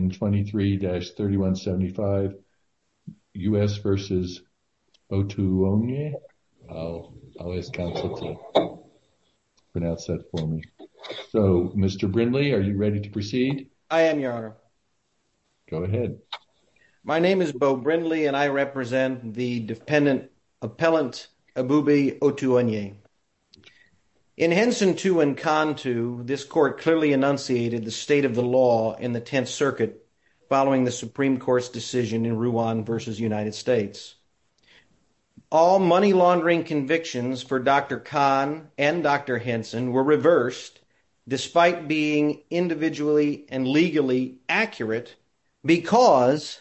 in 23-3175 U.S. v. Otuonye. I'll ask counsel to pronounce that for me. So, Mr. Brindley, are you ready to proceed? I am, your honor. Go ahead. My name is Beau Brindley and I represent the dependent appellant, Abubi Otuonye. In Henson 2 and Con 2, this court clearly enunciated the state of the law in the Tenth Circuit following the Supreme Court's decision in Ruan v. United States. All money laundering convictions for Dr. Khan and Dr. Henson were reversed despite being individually and legally accurate because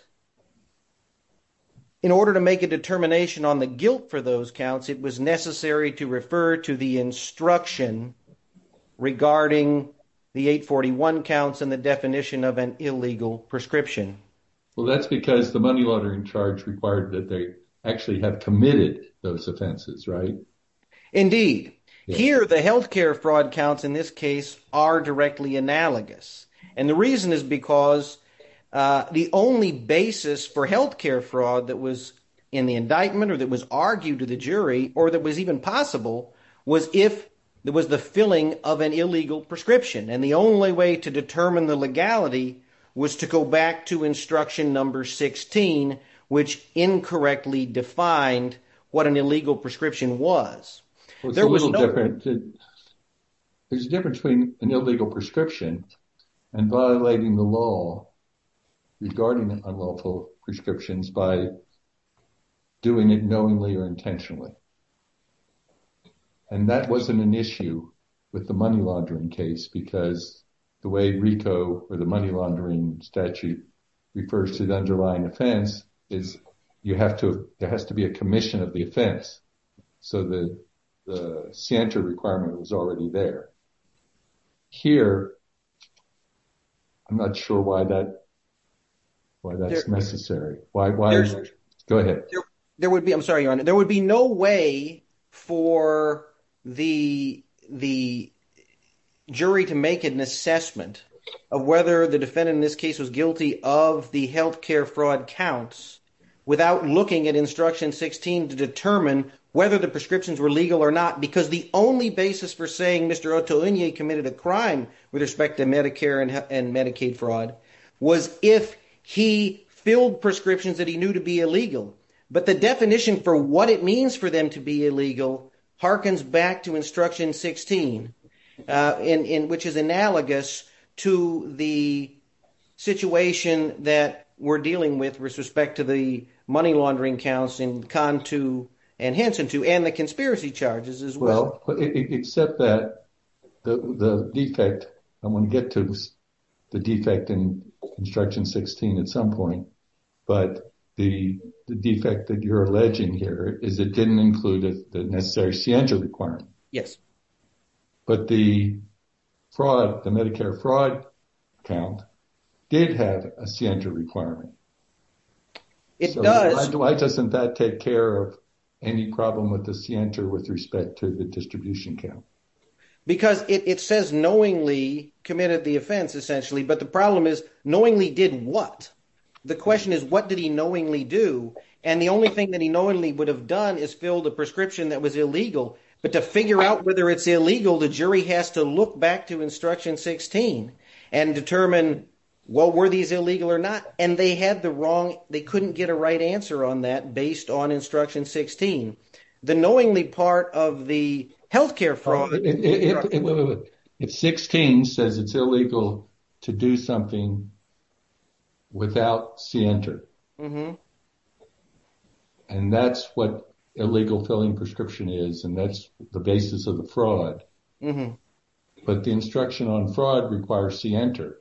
in order to make a determination on the guilt for those counts, it was necessary to refer to the instruction regarding the 841 counts and the definition of an illegal prescription. Well, that's because the money laundering charge required that they actually have committed those offenses, right? Indeed. Here, the health care fraud counts in this case are directly analogous and the reason is because the only basis for health care fraud that was in the indictment or that was argued to the jury or that was even possible was if there was the filling of an illegal prescription and the only way to determine the legality was to go back to instruction number 16, which incorrectly defined what an illegal prescription was. There was no... There's a difference between an illegal prescription and violating the law regarding unlawful prescriptions by doing it knowingly or intentionally. And that wasn't an issue with the money laundering case because the way RICO or the money laundering statute refers to the underlying offense is there has to be a commission of the offense. So, the scienter requirement was already there. Here, I'm not sure why that's necessary. Go ahead. There would be... I'm sorry, your honor. There would be no way for the jury to make an assessment of whether the defendant in this case was guilty of the health care fraud counts without looking at instruction 16 to determine whether the prescriptions were legal or not because the only basis for saying Mr. Ottolenghi committed a crime with respect to Medicare and Medicaid fraud was if he filled prescriptions that he knew to be illegal. But the definition for what it means for them to be illegal harkens back to instruction 16, in which is analogous to the situation that we're dealing with with respect to the money laundering counts in Conn 2 and Henson 2 and the conspiracy charges as well. Except that the defect, I want to get to the defect in instruction 16 at some point, but the defect that you're alleging here is it didn't include the necessary scienter requirement. Yes. But the fraud, the Medicare fraud count did have a scienter requirement. It does. Why doesn't that take care of any problem with the scienter with respect to the distribution count? Because it says knowingly committed the offense essentially, but the problem is knowingly did what? The question is what did he knowingly do? And the only thing that he knowingly would have done is filled a prescription that was illegal, but to figure out whether it's illegal, the jury has to look back to instruction 16 and determine what were these illegal or not. And they had the wrong, they couldn't get a right answer on that based on instruction 16, the knowingly part of the healthcare fraud. It's 16 says it's illegal to do something without scienter. Mm-hmm. And that's what illegal filling prescription is, and that's the basis of the fraud. But the instruction on fraud requires scienter.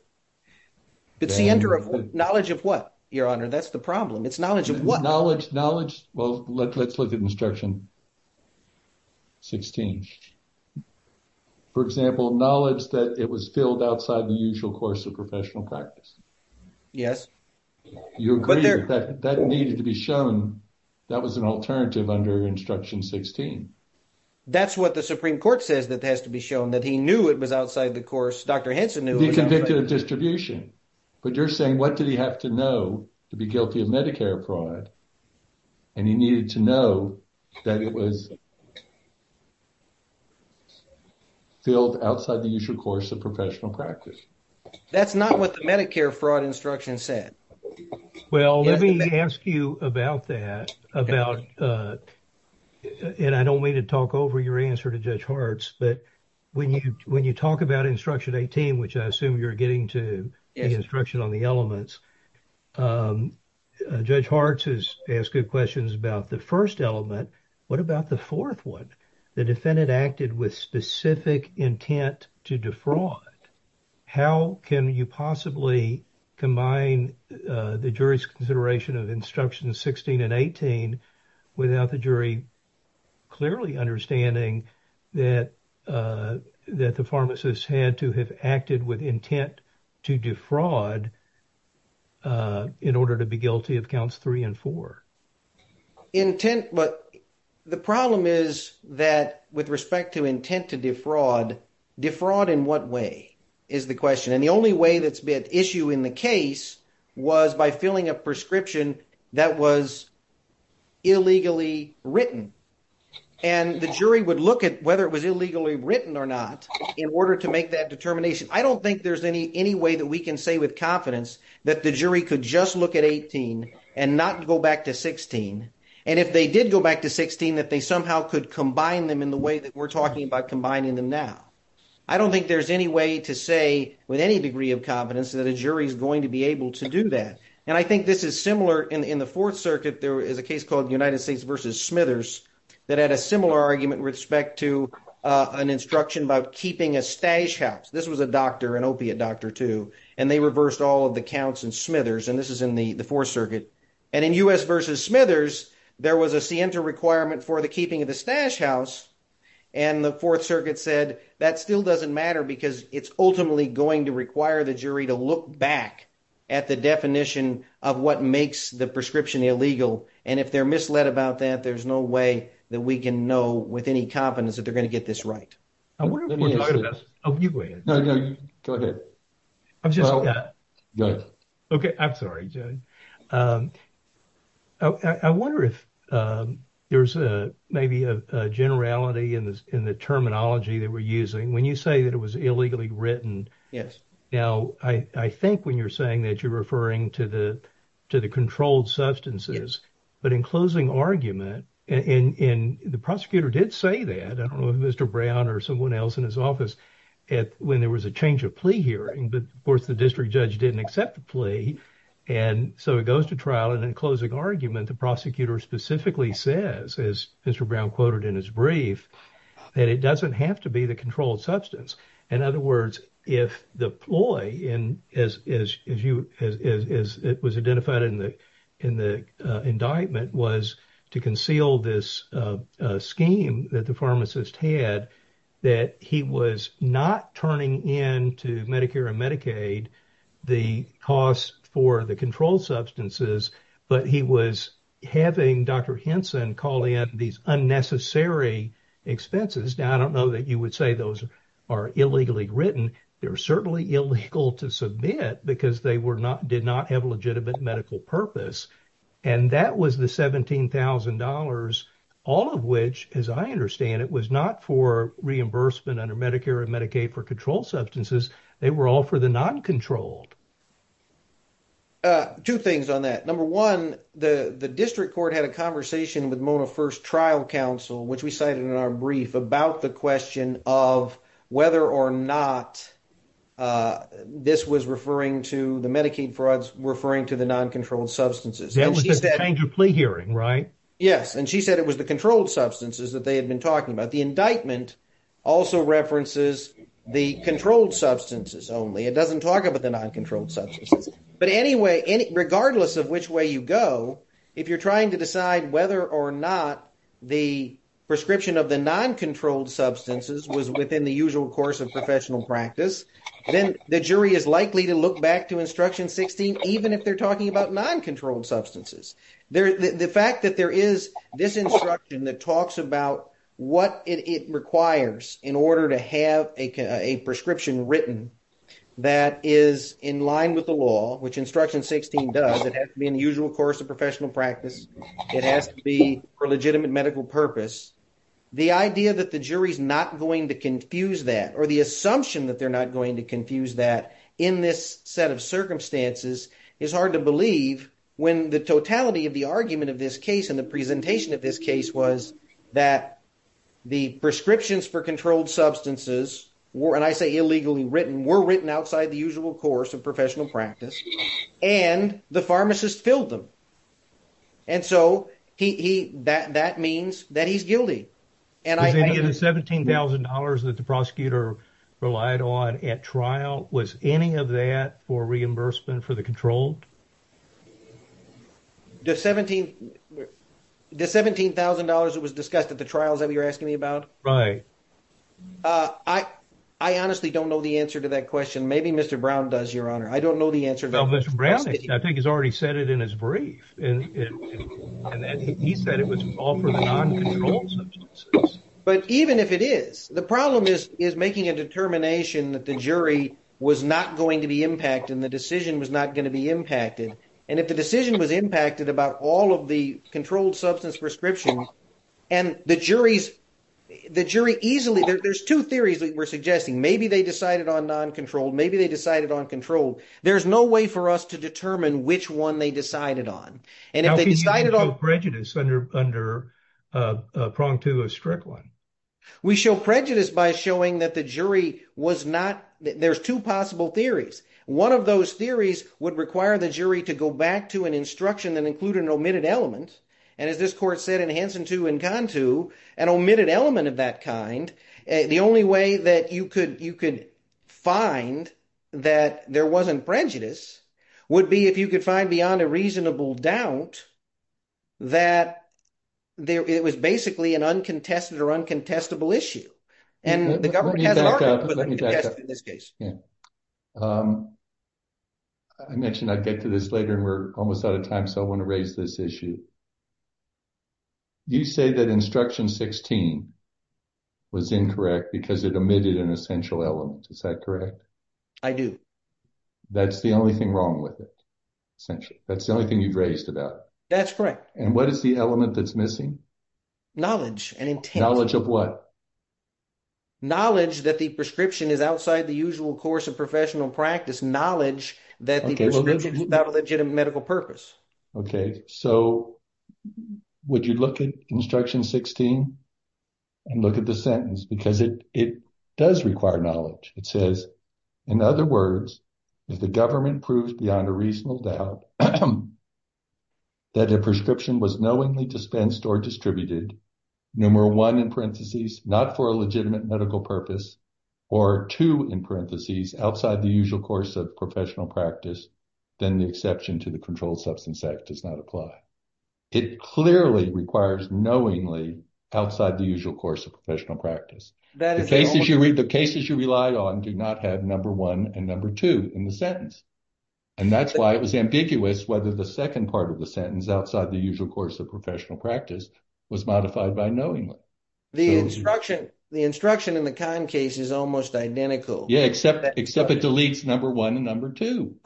But scienter of knowledge of what, your honor? That's the problem. It's knowledge of what? Knowledge, well, let's look at instruction 16. For example, knowledge that it was filled outside the usual course of professional practice. Yes. You agree that that needed to be shown, that was an alternative under instruction 16. That's what the Supreme Court says that has to be shown, that he knew it was outside the course, Dr. Hansen knew. He convicted of distribution, but you're saying what did he have to know to be guilty of Medicare fraud? And he needed to know that it was filled outside the usual course of professional practice. That's not what the Medicare fraud instruction said. Well, let me ask you about that, about, and I don't mean to talk over your answer to Judge Hartz, but when you talk about instruction 18, which I assume you're getting to the instruction on the elements, Judge Hartz has asked good questions about the first element. What about the fourth one? The defendant acted with specific intent to defraud. How can you possibly combine the jury's consideration of instruction 16 and 18 without the jury clearly understanding that the pharmacist had to have acted with intent to defraud in order to be guilty of counts three and four? Intent, but the problem is that with respect to intent to defraud, defraud in what way is the question? And the only way that's been issue in the case was by filling a prescription that was illegally written. And the jury would look at whether it was illegally written or not in order to make that determination. I don't think there's any way that we can say with confidence that the jury could just look at 18 and not go back to 16. And if they did go back to 16, that they somehow could combine them in the way that we're talking about combining them now. I don't think there's any way to say with any degree of confidence that a jury is going to be able to do that. And I think this is similar in the Fourth Circuit, there is a case called United States versus Smithers that had a similar argument with respect to an instruction about keeping a stash house. This was a doctor, an opiate doctor too. And they reversed all of the counts in Smithers. And this is in the Fourth Circuit. And in U.S. versus Smithers, there was a scienter requirement for the keeping of the stash house. And the Fourth Circuit said that still doesn't matter because it's ultimately going to require the jury to look back at the definition of what makes the prescription illegal. And if they're misled about that, there's no way that we can know with any confidence that they're going to get this right. I wonder if we're talking about... Oh, you go ahead. No, no, go ahead. I'm just... Okay. I'm sorry, Jay. I wonder if there's maybe a generality in the terminology that we're using. When you say that it was illegally written. Yes. Now, I think when you're saying that you're referring to the controlled substances, but in closing argument, and the prosecutor did say that, I don't know if Mr. Brown or someone else in his office, when there was a change of plea hearing, but of course the district judge didn't accept the plea. And so it goes to trial and in closing argument, the prosecutor specifically says, as Mr. Brown quoted in his brief, that it doesn't have to be the controlled substance. In other words, if the ploy as it was identified in the indictment was to conceal this scheme that the pharmacist had, that he was not turning in to Medicare and Medicaid, the costs for the controlled substances, but he was having Dr. Henson calling out these unnecessary expenses. Now, I don't know that you would say those are illegally written. They're certainly illegal to submit because they did not have a legitimate medical purpose. And that was the $17,000, all of which, as I understand it, was not for reimbursement under Medicare and Medicaid for controlled substances. They were all for the non-controlled. Two things on that. Number one, the district court had a conversation with Mona First Trial Counsel, which we cited in our brief about the question of whether or not this was referring to the Medicaid frauds, referring to the non-controlled substances. That was the change of plea hearing, right? Yes. And she said it was the controlled substances that they had been talking about. The indictment also references the controlled substances only. It doesn't talk about the non-controlled substances. But anyway, regardless of which you go, if you're trying to decide whether or not the prescription of the non-controlled substances was within the usual course of professional practice, then the jury is likely to look back to instruction 16, even if they're talking about non-controlled substances. The fact that there is this instruction that talks about what it requires in order to have a prescription written that is in line with the law, which instruction 16 does, has to be in the usual course of professional practice. It has to be for legitimate medical purpose. The idea that the jury is not going to confuse that or the assumption that they're not going to confuse that in this set of circumstances is hard to believe when the totality of the argument of this case and the presentation of this case was that the prescriptions for controlled substances were, and I say illegally written, were written outside the usual course of professional practice and the pharmacist filled them. That means that he's guilty. Was any of the $17,000 that the prosecutor relied on at trial, was any of that for reimbursement for the controlled? The $17,000 that was discussed at the trials that you're asking me about? Right. I honestly don't know the answer to that question. Maybe Mr. Brown does, Your Honor. I don't know the answer. Well, Mr. Brown, I think he's already said it in his brief. He said it was all for the non-controlled substances. But even if it is, the problem is making a determination that the jury was not going to be impacted and the decision was not going to be impacted. If the decision was impacted about all of the controlled substance prescriptions and the jury easily, there's two theories that we're suggesting. Maybe they decided on non-controlled, maybe they decided on controlled. There's no way for us to determine which one they decided on. And if they decided on- How can you show prejudice under a prong to a strict one? We show prejudice by showing that the jury was not, there's two possible theories. One of those theories would require the jury to go back to an instruction that included an omitted element. And as this court said in Hanson 2 and Con 2, an omitted element of that kind, the only way that you could find that there wasn't prejudice would be if you could find beyond a reasonable doubt that it was basically an uncontested or uncontestable issue. And the government has an argument, but uncontested in this case. Let me back up. I mentioned I'd get to this later and we're almost out of time, so I want to raise this issue. You say that instruction 16 was incorrect because it omitted an essential element, is that correct? I do. That's the only thing wrong with it, essentially. That's the only thing you've raised about it. That's correct. And what is the element that's missing? Knowledge and intent. Knowledge of what? Knowledge that the prescription is outside the usual course of professional practice, knowledge that the prescription is without a legitimate medical purpose. Okay, so would you look at instruction 16 and look at the sentence? Because it does require knowledge. It says, in other words, if the government proves beyond a reasonable doubt that a prescription was knowingly dispensed or distributed, numeral one in parentheses, not for a legitimate medical purpose, or two in parentheses, outside the usual course of professional practice, then the exception to the controlled substance act does not apply. It clearly requires knowingly outside the usual course of professional practice. The cases you rely on do not have number one and number two in the sentence. And that's why it was ambiguous whether the second part of the sentence outside the usual course of professional practice was modified by knowingly. The instruction in the Kahn case is almost identical. Yeah, except it deletes number one and number two,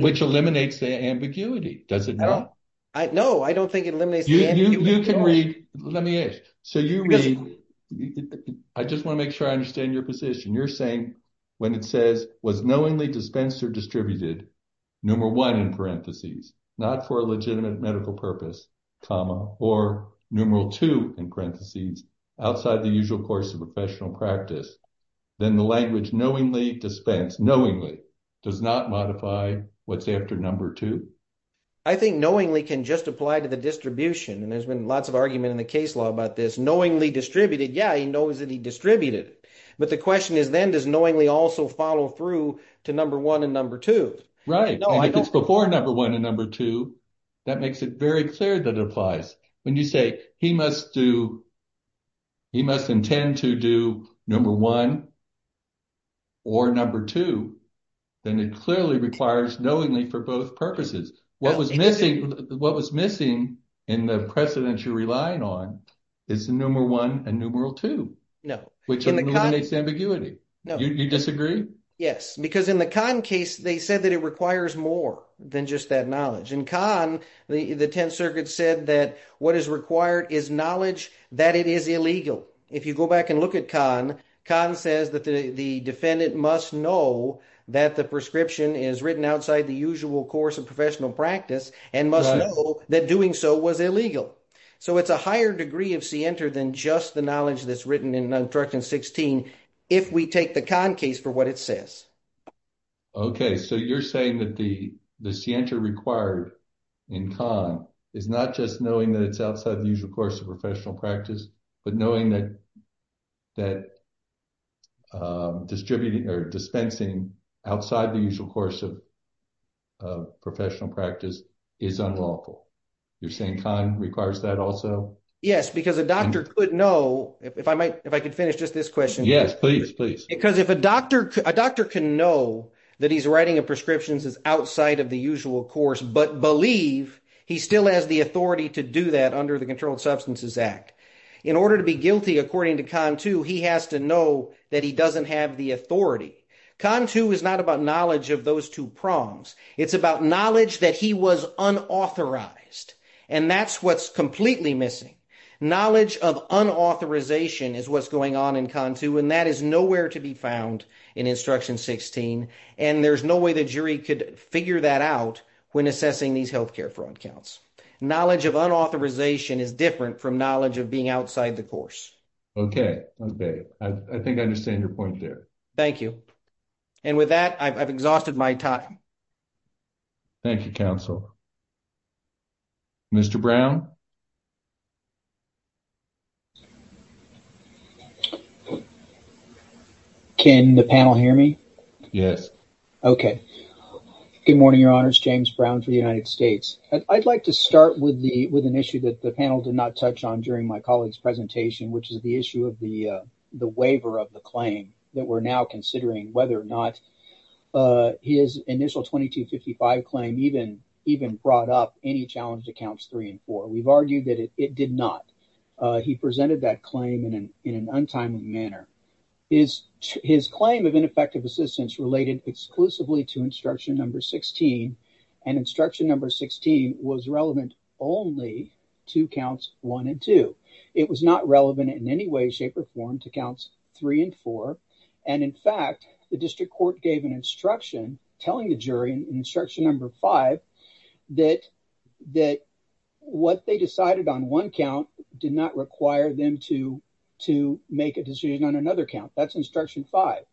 which eliminates the ambiguity. Does it not? No, I don't think it eliminates the ambiguity. You can read. Let me ask. I just want to make sure I understand your position. You're saying when it says, was knowingly dispensed or distributed, numeral one in parentheses, not for a legitimate medical purpose, comma, or numeral two in parentheses, outside the usual course of professional practice, then the language knowingly dispensed, knowingly, does not modify what's after number two? I think knowingly can just apply to the distribution. And there's been lots of argument in the case law about this knowingly distributed. Yeah, he knows that he distributed. But the question is, then does knowingly also follow through to number one and number two? Right. If it's before number one and number two, that makes it very clear that it applies. When you say he must do, he must intend to do number one or number two, then it clearly requires knowingly for both purposes. What was missing in the precedence you're relying on is the numeral one and numeral two, which eliminates the ambiguity. You disagree? Yes, because in the Kahn case, they said that it requires more than just that knowledge. In Kahn, the Tenth Circuit said that what is required is knowledge that it is illegal. If you go back and look at Kahn, Kahn says that the defendant must know that the prescription is written outside the usual course of professional practice and must know that doing so was illegal. So it's a higher degree of scienter than just the knowledge that's written in Nontructin 16, if we take the Kahn case for what it says. Okay. So you're saying that the scienter required in Kahn is not just knowing that it's outside the usual course of professional practice, but knowing that dispensing outside the usual course of professional practice is unlawful. You're saying Kahn requires that also? Yes, because a doctor could know, if I could finish just this question. Yes, please, please. Because if a doctor can know that he's writing a prescription that's outside of the usual course, but believe he still has the authority to do that under the Controlled Substances Act, in order to be guilty, according to Kahn too, he has to know that he doesn't have the authority. Kahn too is not about knowledge of those two prongs. It's about knowledge that he was unauthorized, and that's what's completely missing. Knowledge of unauthorization is what's going on in Kahn too, and that is nowhere to be found in Instruction 16, and there's no way the jury could figure that out when assessing these healthcare fraud counts. Knowledge of unauthorization is different from knowledge of being outside the course. Okay. Okay. I think I understand your point there. Thank you. And with that, I've exhausted my time. Thank you, counsel. Mr. Brown? Can the panel hear me? Yes. Okay. Good morning, Your Honors. James Brown for the United States. I'd like to start with an issue that the panel did not touch on during my colleague's presentation, which is the issue of the waiver of the claim, that we're now considering whether or not his initial 2255 claim even brought up any challenged accounts three and four. We've that claim in an untimely manner. His claim of ineffective assistance related exclusively to Instruction 16, and Instruction 16 was relevant only to counts one and two. It was not relevant in any way, shape, or form to counts three and four, and in fact, the district court gave an instruction telling the jury in Instruction 5 that what they decided on one count did not require them to make a decision on another count. That's Instruction 5.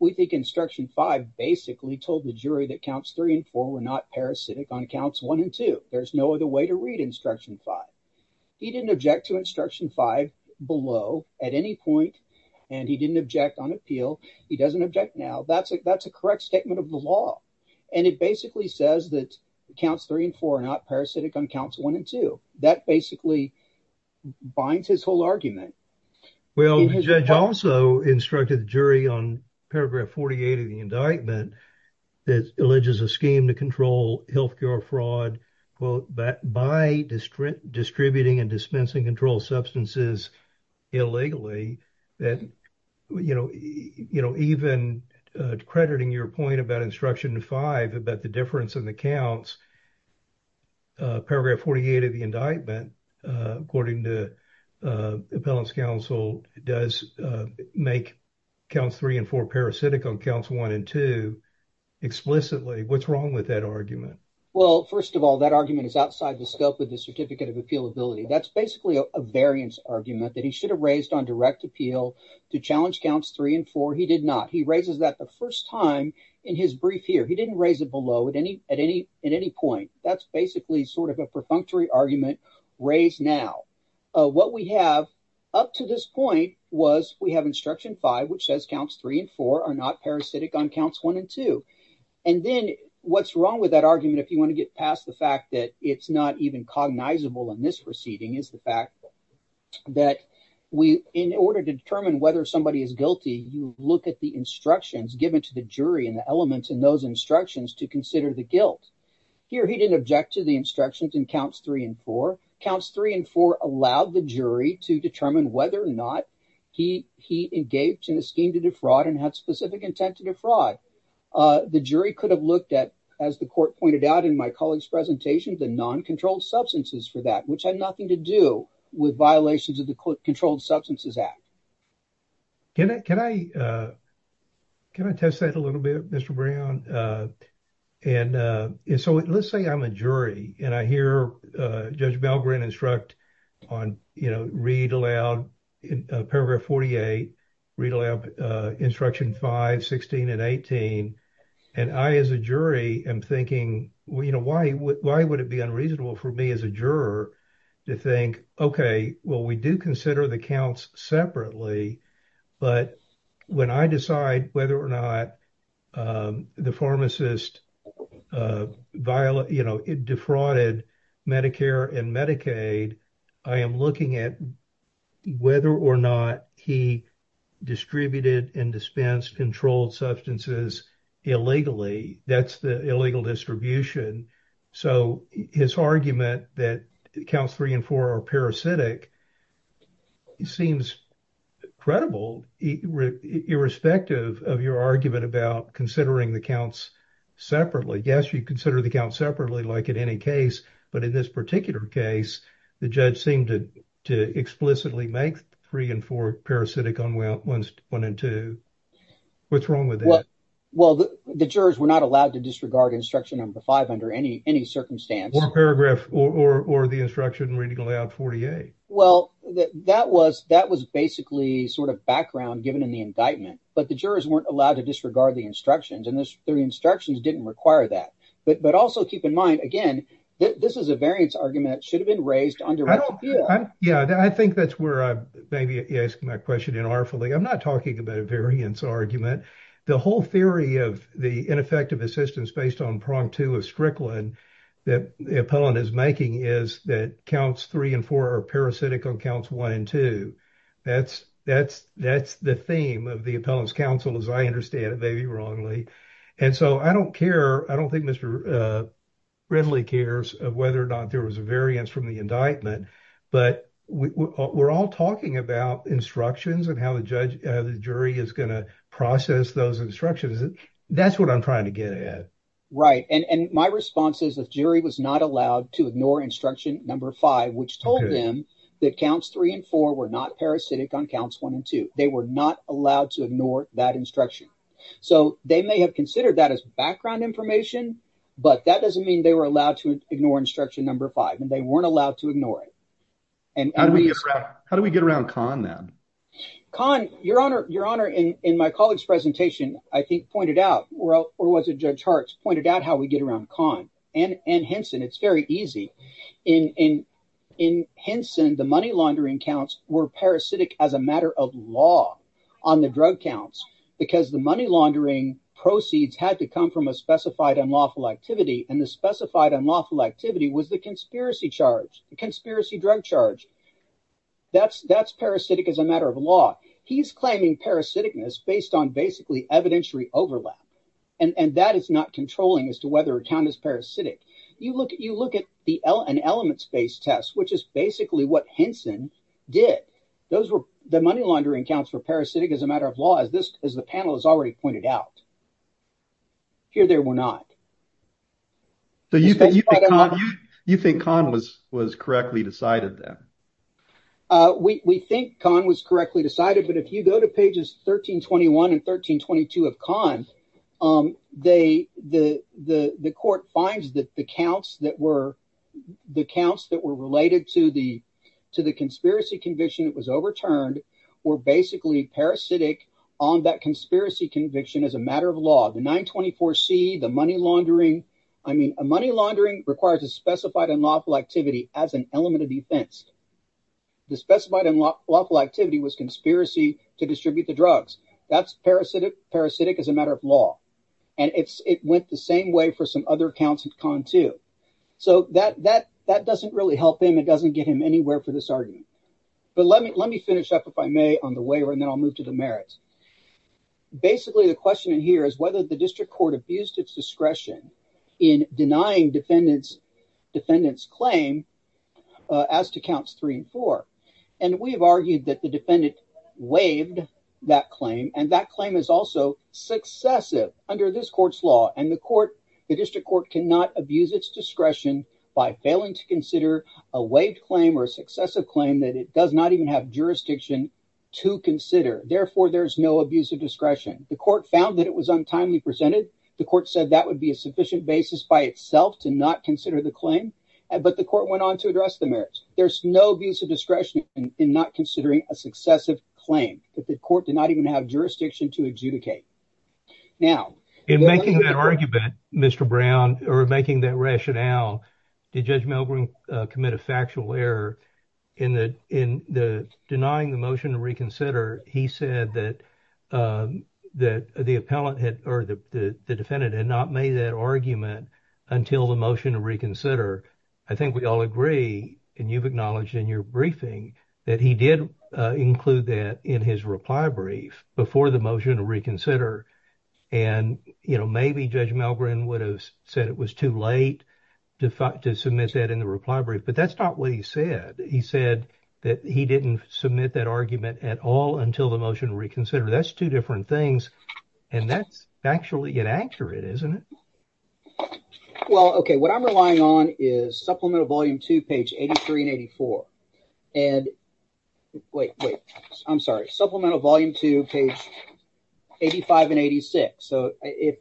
We think Instruction 5 basically told the jury that counts three and four were not parasitic on counts one and two. There's no other way to read Instruction 5. He didn't object to Instruction 5 below at any point, and he didn't object on appeal. He doesn't object now. That's a correct statement of the law, and it basically says that counts three and four are not parasitic on counts one and two. That basically binds his whole argument. Well, the judge also instructed the jury on paragraph 48 of the indictment that alleges a scheme to control health care fraud, quote, by distributing and dispensing controlled substances illegally that, you know, you know, even crediting your point about Instruction 5 about the difference in the counts, paragraph 48 of the indictment, according to Appellant's counsel, does make counts three and four parasitic on counts one and two explicitly. What's wrong with that argument? Well, first of all, that argument is outside the scope of the Certificate of Appealability. That's basically a variance argument that he should have raised on direct appeal to challenge counts three and four. He did not. He raises that the first time in his brief here. He didn't raise it below at any point. That's basically sort of a perfunctory argument raised now. What we have up to this point was we have Instruction 5, which says counts three and four are not parasitic on counts one and two. And then what's wrong with that argument, if you want to get past the fact that it's not even cognizable in this proceeding, is the fact that we, in order to determine whether somebody is guilty, you look at the instructions given to the jury and the elements in those instructions to consider the guilt. Here he didn't object to the instructions in counts three and four. Counts three and four allowed the jury to determine whether or not he engaged in a scheme to defraud and had specific intent to defraud. The jury could have looked at, as the court pointed out in my colleague's presentation, the non-controlled substances for that, which had nothing to do with violations of the Controlled Substances Act. Can I test that a little bit, Mr. Brown? And so let's say I'm a jury and I hear Judge Belgrin instruct on, you know, read aloud paragraph 48, read aloud Instruction 5, 16, and 18. And I, as a jury, am thinking, you know, why would it be unreasonable for me as a juror to think, okay, well, we do consider the counts separately, but when I decide whether or not the pharmacist, you know, defrauded Medicare and Medicaid, I am looking at whether or not he distributed and dispensed controlled substances illegally. That's the illegal distribution. So his argument that counts three and four are parasitic seems credible, irrespective of your argument about considering the counts separately. Yes, you consider the counts separately, like in any case, but in this particular case, the judge seemed to explicitly make three and four parasitic on one and two. What's wrong with that? Well, the jurors were not allowed to disregard Instruction Number 5 under any circumstance. Or the Instruction Reading Aloud 48. Well, that was basically sort of background given in the indictment, but the jurors weren't allowed to disregard the instructions and the instructions didn't require that. But also keep in mind, again, this is a variance argument that should have been raised under- Yeah, I think that's where I'm maybe asking my question inartifully. I'm not talking about a variance argument. The whole theory of the ineffective assistance based on prong two of Strickland that the appellant is making is that counts three and four are parasitic on counts one and two. That's the theme of the appellant's counsel, as I understand it, maybe wrongly. And so I don't care. I don't think Mr. Ridley cares of whether or not there was a variance from the indictment, but we're all talking about instructions and how the jury is going to process those instructions. That's what I'm trying to get at. Right. And my response is the jury was not allowed to ignore Instruction Number 5, which told them that counts three and four were not parasitic on counts one and two. They were not allowed to ignore that instruction. So they may have considered that as background information, but that doesn't mean they were allowed to ignore Instruction Number 5 and they weren't allowed to ignore it. And how do we get around? How do we get around con now? Con your honor, your honor, in my colleagues presentation, I think pointed out well, or was it Judge Hart pointed out how we get around con and Henson. It's very easy in Henson. The money laundering counts were parasitic as a matter of law on the drug counts because the money laundering proceeds had to come from a specified unlawful activity. And the specified unlawful activity was the conspiracy charge, the conspiracy drug charge. That's that's parasitic as a matter of law. He's claiming parasitic based on basically evidentiary overlap. And that is not controlling as to whether a count is parasitic. You look at you look at the an element space test, which is basically what Henson did. Those were the money laundering counts for parasitic as a matter of law, as this as the panel has already pointed out. Here, there were not. You think con was was correctly decided then? We think con was correctly decided, but if you go to pages 1321 and 1322 of con, they the the the court finds that the counts that were the counts that were related to the to the conspiracy conviction that was overturned were basically parasitic on that conspiracy conviction as a matter of law. The 924 C, the money laundering. I mean, a money laundering requires a specified unlawful activity as an element of defense. The specified unlawful activity was conspiracy to distribute the drugs. That's parasitic. Parasitic as a matter of law. And it's it went the same way for some other accounts of con, too. So that that that doesn't really help him. It doesn't get him anywhere for this argument. But let me let me finish up, if I may, on the waiver and then I'll move to the merits. Basically, the question in here is whether the district court abused its discretion in denying defendants defendants claim as to counts three and four. And we have argued that the defendant waived that claim. And that claim is also successive under this court's law. And the court, the district court cannot abuse its discretion by failing to consider a waived claim or successive claim that it does not even have jurisdiction to consider. Therefore, there's no abuse of discretion. The court found that it was untimely presented. The court said that would be a sufficient basis by itself to not consider the claim. But the court went on to address the merits. There's no abuse of discretion in not considering a successive claim that the court did not even have jurisdiction to adjudicate. Now, in making that argument, Mr. Brown, or making that rationale, did Judge Milgrim commit a factual error in the in the denying the motion to reconsider? He said that that the appellant had or the defendant had not made that argument until the motion to reconsider. I think we all agree. And you've acknowledged in your briefing that he did include that in his reply brief before the motion to reconsider. And, you know, maybe Judge Milgrim would have said it was too late to submit that in the reply brief. But that's not what he said. He said that he didn't submit that argument at all until the motion to reconsider. That's two different things. And that's actually inaccurate, isn't it? Well, OK, what I'm relying on is Supplemental Volume 2, page 83 and 84. And wait, wait, I'm sorry, Supplemental Volume 2, page 85 and 86. So if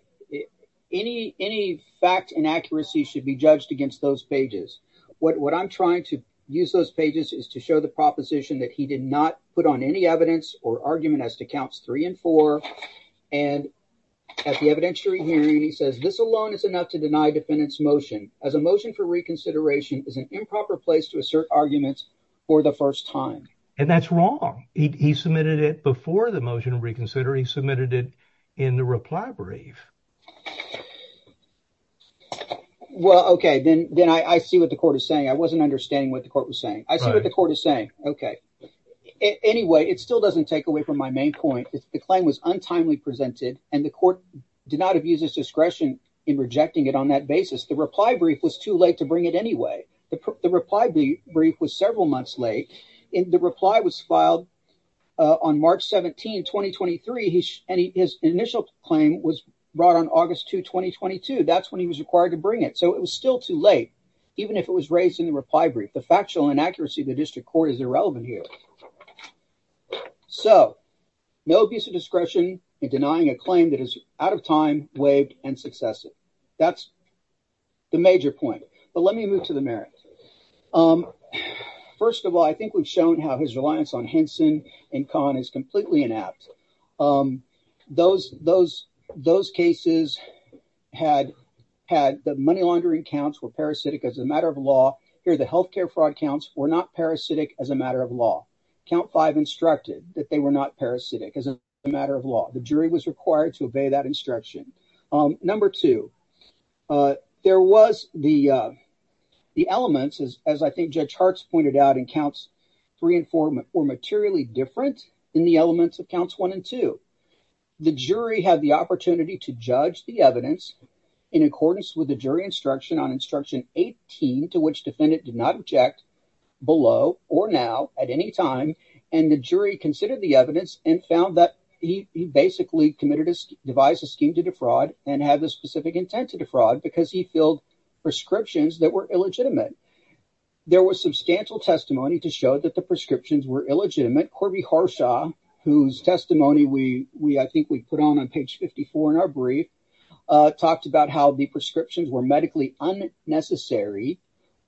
any fact inaccuracy should be judged against those pages, what I'm trying to use those pages is to show the proposition that he did not put on any evidence or argument as to counts three and four. And at the evidentiary hearing, he says this alone is enough to deny defendants motion as a motion for reconsideration is an improper place to assert arguments for the first time. And that's wrong. He submitted it before the motion to reconsider. He submitted it in the reply brief. Well, OK, then I see what the court is saying. I wasn't understanding what the court was saying. I see what the court is saying. OK. Anyway, it still doesn't take away from my main point. The claim was untimely presented and the court did not abuse its discretion in rejecting it on that basis. The reply brief was too late to bring it anyway. The reply brief was several months late and the reply was filed on March 17, 2023. His initial claim was brought on August 2, 2022. That's when he was required to bring it. So it was still too late, even if it was raised in the reply brief. The factual inaccuracy of the district court is irrelevant here. So no abuse of discretion in denying a claim that is out of time, waived and successive. That's the major point. But let me move to the merits. First of all, I think we've shown how his reliance on Henson and Kahn is completely inept. Those cases had had the money laundering counts were parasitic as a matter of law. Here, the health care fraud counts were not parasitic as a matter of law. Count five instructed that they were not parasitic as a matter of law. The jury was required to obey that instruction. Number two, there was the the elements, as I think Judge Hartz pointed out, in counts three and four were materially different in the elements of counts one and two. The jury had the opportunity to judge the evidence in accordance with the jury instruction on instruction 18, to which defendant did not object below or now at any time. And the jury considered the evidence and found that he basically committed to devise a scheme to defraud and have a specific intent to defraud because he filled prescriptions that were illegitimate. There was substantial testimony to show that the prescriptions were illegitimate. Corby Harsha, whose testimony we I think we put on on page 54 in our brief, talked about how the prescriptions were medically unnecessary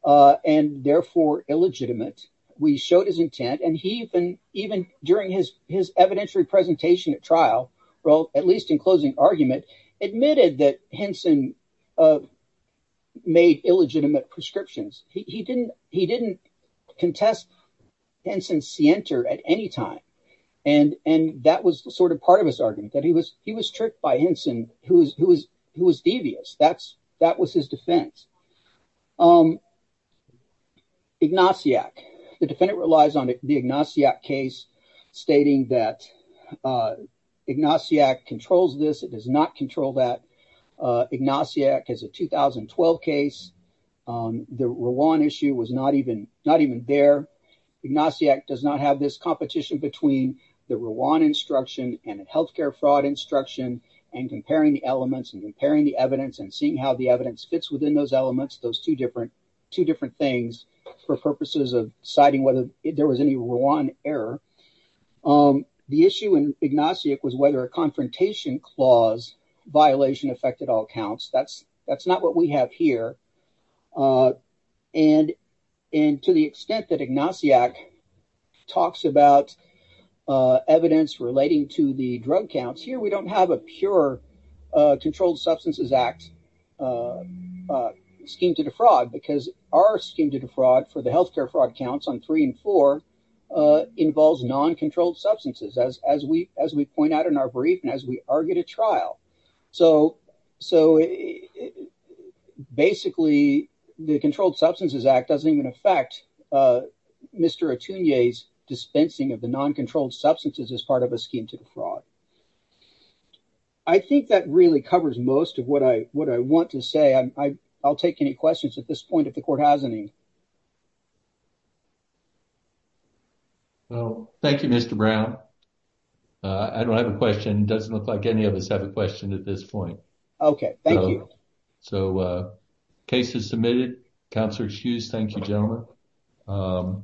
and therefore illegitimate. We showed his intent and he even during his evidentiary presentation at trial wrote, at least in closing argument, admitted that Henson made illegitimate prescriptions. He didn't contest Henson's scienter at any time and that was sort of part of his argument, that he was tricked by Henson who was devious. That was his defense. Ignatiac, the defendant relies on the Ignatiac case stating that Ignatiac controls this, it does not control that. Ignatiac is a 2012 case. The Rwan issue was not even there. Ignatiac does not have this competition between the Rwan instruction and healthcare fraud instruction and comparing the elements and comparing the evidence and seeing how the evidence fits within those elements, those two different things for purposes of deciding whether there was any Rwan error. The issue in Ignatiac was whether a confrontation clause violation affected all counts. That's not what we have here and to the extent that Ignatiac talks about evidence relating to the drug counts, here we don't have a pure Controlled Substances Act scheme to defraud because our scheme to defraud for the healthcare fraud counts on three and four involves non-controlled substances as we point out in our brief and as we argue to trial. So basically the Controlled Substances Act doesn't even affect Mr. Atunia's dispensing of the non-controlled substances as part of a scheme to defraud. I think that really covers most of what I want to say. I'll take any questions at this point if the court has any. Thank you, Mr. Brown. I don't have a question. It doesn't look like any of us have a question at this point. Okay, thank you. So the case is submitted. Counselor Hughes, thank you gentlemen.